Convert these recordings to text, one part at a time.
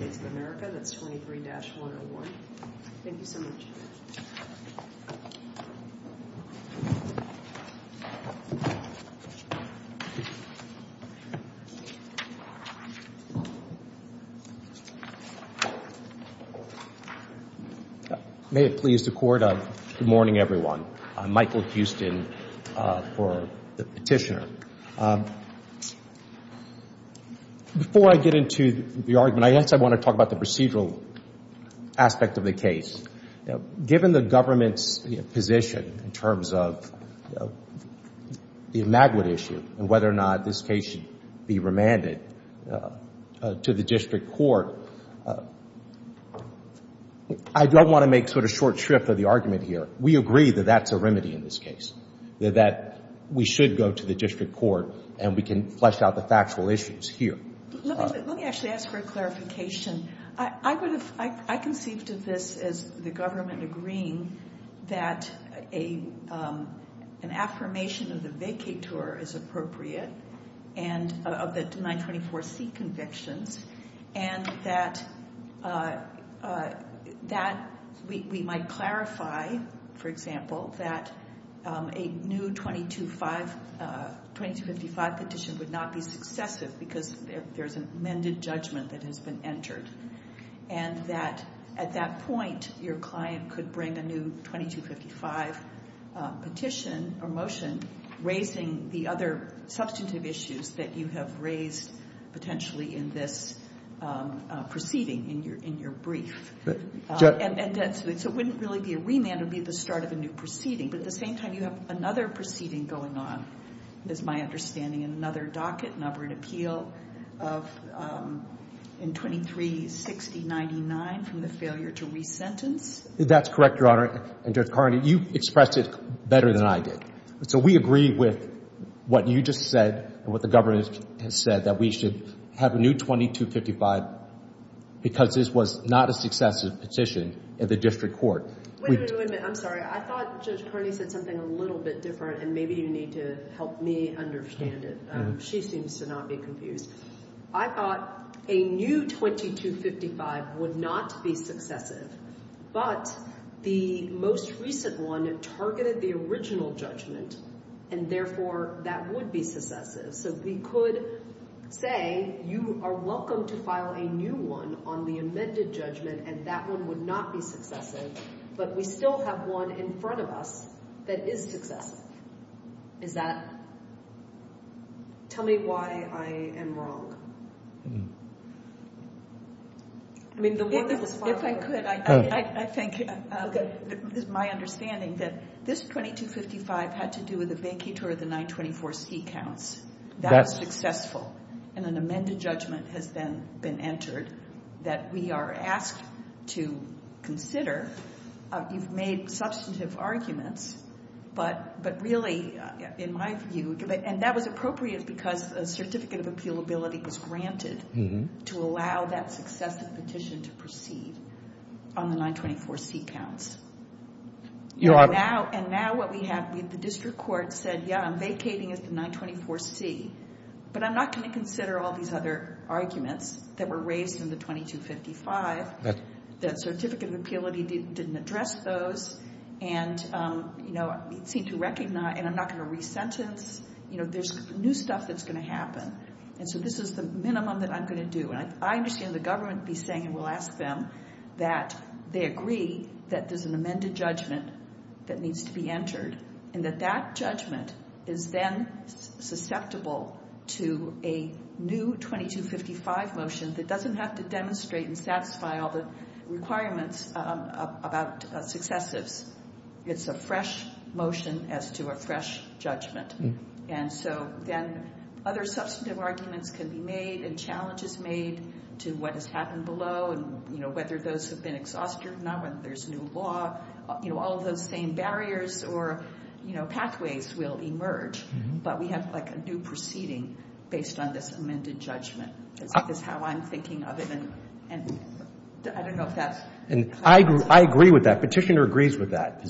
of America. That's 23-101. Thank you so much. May it please the court. Good morning, everyone. I'm Michael Houston for the petitioner. Before I get into the argument, I guess I want to talk about the procedural aspect of the case. Given the government's position in terms of the Magwood issue and whether or not this case should be remanded to the district court, I don't want to make sort of short shrift of the argument here. We agree that that's a remedy in this case. That we should go to the district court and we can flesh out the factual issues here. Let me actually ask for a clarification. I conceived of this as the government agreeing that an affirmation of the vacatur is appropriate of the 924C convictions and that we might clarify, for example, that a new 2255 petition would not be successive because there's an amended judgment that has been entered. And that at that point, your client could bring a new 2255 petition or motion raising the other substantive issues that you have raised potentially in this proceeding in your brief. And so it wouldn't really be a remand. It would be the start of a new proceeding. But at the same time, you have another proceeding going on, as my understanding, in another docket, another appeal of 236099 from the failure to resentence. That's correct, Your Honor. And Judge Carney, you expressed it better than I did. So we agree with what you just said and what the government has said, that we should have a new 2255 because this was not a successive petition at the district court. Wait a minute. I'm sorry. I thought Judge Carney said something a little bit different, and maybe you need to help me understand it. She seems to not be confused. I thought a new 2255 would not be successive, but the most recent one targeted the original judgment, and therefore that would be successive. So we could say you are welcome to file a new one on the amended judgment, and that one would not be successive, but we still have one in front of us that is successive. Is that? Tell me why I am wrong. If I could, I think it is my understanding that this 2255 had to do with a vacatur of the 924C counts. That was successful, and an amended judgment has been entered that we are asked to consider. You've made substantive arguments, but really, in my view, and that was appropriate because a certificate of appealability was granted to allow that successive petition to proceed on the 924C counts. And now what we have, the district court said, yes, I'm vacating the 924C, but I'm not going to consider all these other arguments that were raised in the 2255. The certificate of appealability didn't address those, and it seemed to recognize, and I'm not going to resentence. You know, there's new stuff that's going to happen, and so this is the minimum that I'm going to do. And I understand the government be saying, and we'll ask them, that they agree that there's an amended judgment that needs to be entered, and that that judgment is then susceptible to a new 2255 motion that doesn't have to demonstrate and satisfy all the requirements about successives. It's a fresh motion as to a fresh judgment. And so then other substantive arguments can be made and challenges made to what has happened below and, you know, whether those have been exhausted or not, whether there's new law, you know, all of those same barriers or, you know, pathways will emerge. But we have, like, a new proceeding based on this amended judgment is how I'm thinking of it, and I don't know if that's... And so we've done that. But I do agree with the government that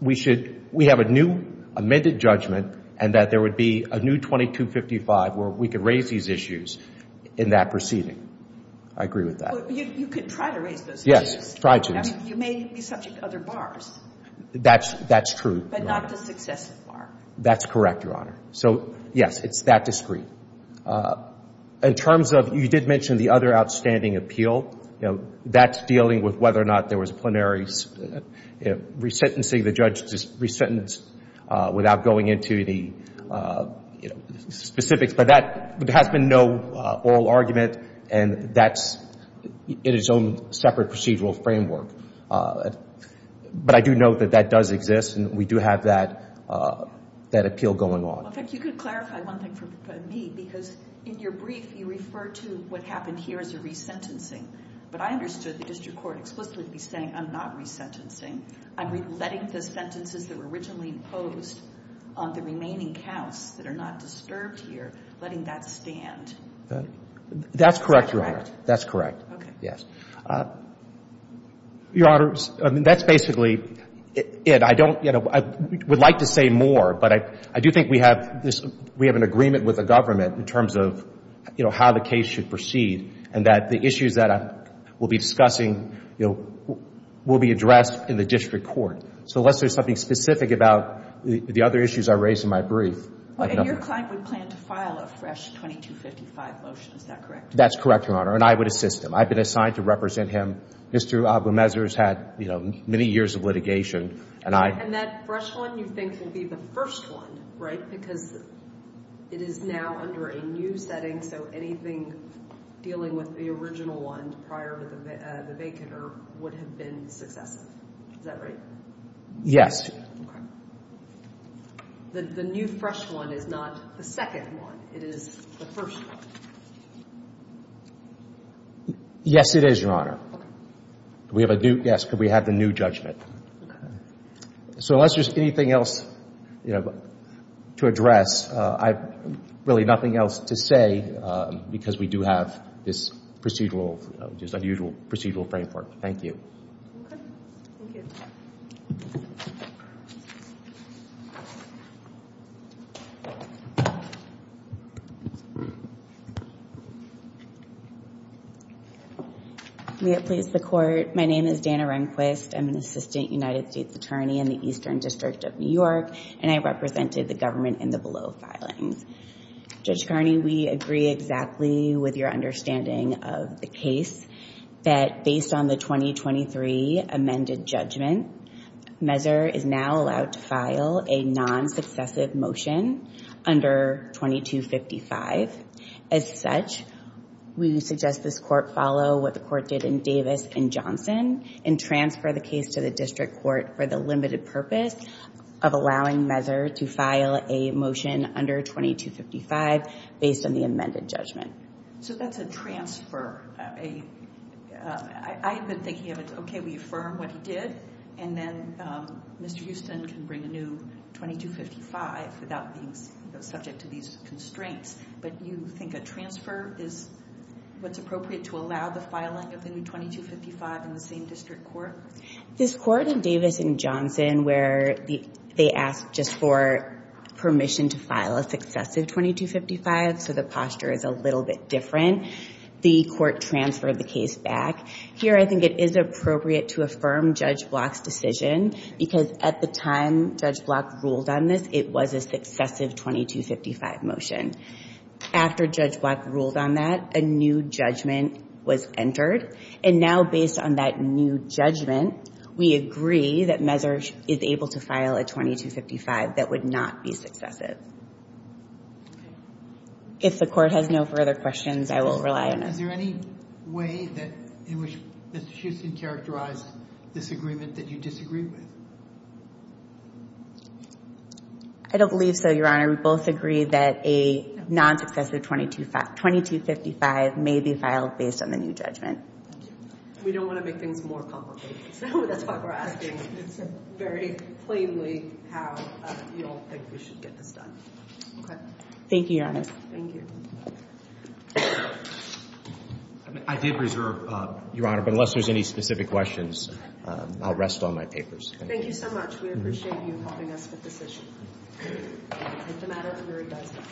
we should... we have a new amended judgment and that there would be a new 2255 where we could raise these issues in that proceeding. I agree with that. But you could try to raise those issues. Yes, try to. I mean, you may be subject to other bars. That's true. But not the successive bar. That's correct, Your Honor. So, yes, it's that discreet. In terms of, you did mention the other outstanding appeal. You know, that's dealing with whether or not there was a plenary, you know, resentencing. The judge just resentenced without going into the, you know, specifics. But that has been no oral argument, and that's in its own separate procedural framework. But I do note that that does exist, and we do have that appeal going on. In fact, you could clarify one thing for me, because in your brief, you refer to what happened here as a resentencing. But I understood the district court explicitly saying, I'm not resentencing. I'm letting the sentences that were originally imposed on the remaining counts that are not disturbed here, letting that stand. That's correct, Your Honor. That's correct. Okay. Yes. Your Honor, that's basically it. I don't, you know, I would like to say more. But I do think we have an agreement with the government in terms of, you know, how the case should proceed, and that the issues that we'll be discussing, you know, will be addressed in the district court. So unless there's something specific about the other issues I raised in my brief. And your client would plan to file a fresh 2255 motion, is that correct? That's correct, Your Honor. And I would assist him. I've been assigned to represent him. Mr. Aboumezer has had, you know, many years of litigation. And that fresh one you think will be the first one, right, because it is now under a new setting, so anything dealing with the original one prior to the vacant would have been successive. Is that right? Yes. Okay. The new fresh one is not the second one. It is the first one. Yes, it is, Your Honor. Okay. Yes, because we have the new judgment. Okay. So unless there's anything else, you know, to address, I have really nothing else to say because we do have this procedural, just unusual procedural framework. Thank you. Okay. Thank you. May it please the Court. My name is Dana Rehnquist. I'm an Assistant United States Attorney in the Eastern District of New York, and I represented the government in the below filings. Judge Kearney, we agree exactly with your understanding of the case that based on the 2023 amended judgment, Messer is now allowed to file a non-successive motion under 2255. As such, we suggest this Court follow what the Court did in Davis and Johnson and transfer the case to the District Court for the limited purpose of allowing Messer to file a motion under 2255 based on the amended judgment. So that's a transfer. I have been thinking of it, okay, we affirm what he did, and then Mr. Houston can bring a new 2255 without being subject to these constraints, but you think a transfer is what's appropriate to allow the filing of the new 2255 in the same District Court? This Court in Davis and Johnson where they asked just for permission to file a successive 2255, so the posture is a little bit different. Again, the Court transferred the case back. Here I think it is appropriate to affirm Judge Block's decision because at the time Judge Block ruled on this, it was a successive 2255 motion. After Judge Block ruled on that, a new judgment was entered, and now based on that new judgment, we agree that Messer is able to file a 2255 that would not be successive. If the Court has no further questions, I will rely on it. Is there any way in which Mr. Houston characterized this agreement that you disagree with? I don't believe so, Your Honor. We both agree that a non-successive 2255 may be filed based on the new judgment. We don't want to make things more complicated, so that's why we're asking very plainly how you all think we should get this done. Thank you, Your Honor. Thank you. I did reserve, Your Honor, but unless there's any specific questions, I'll rest on my papers. Thank you so much. We appreciate you helping us with this issue. It's a matter of revising.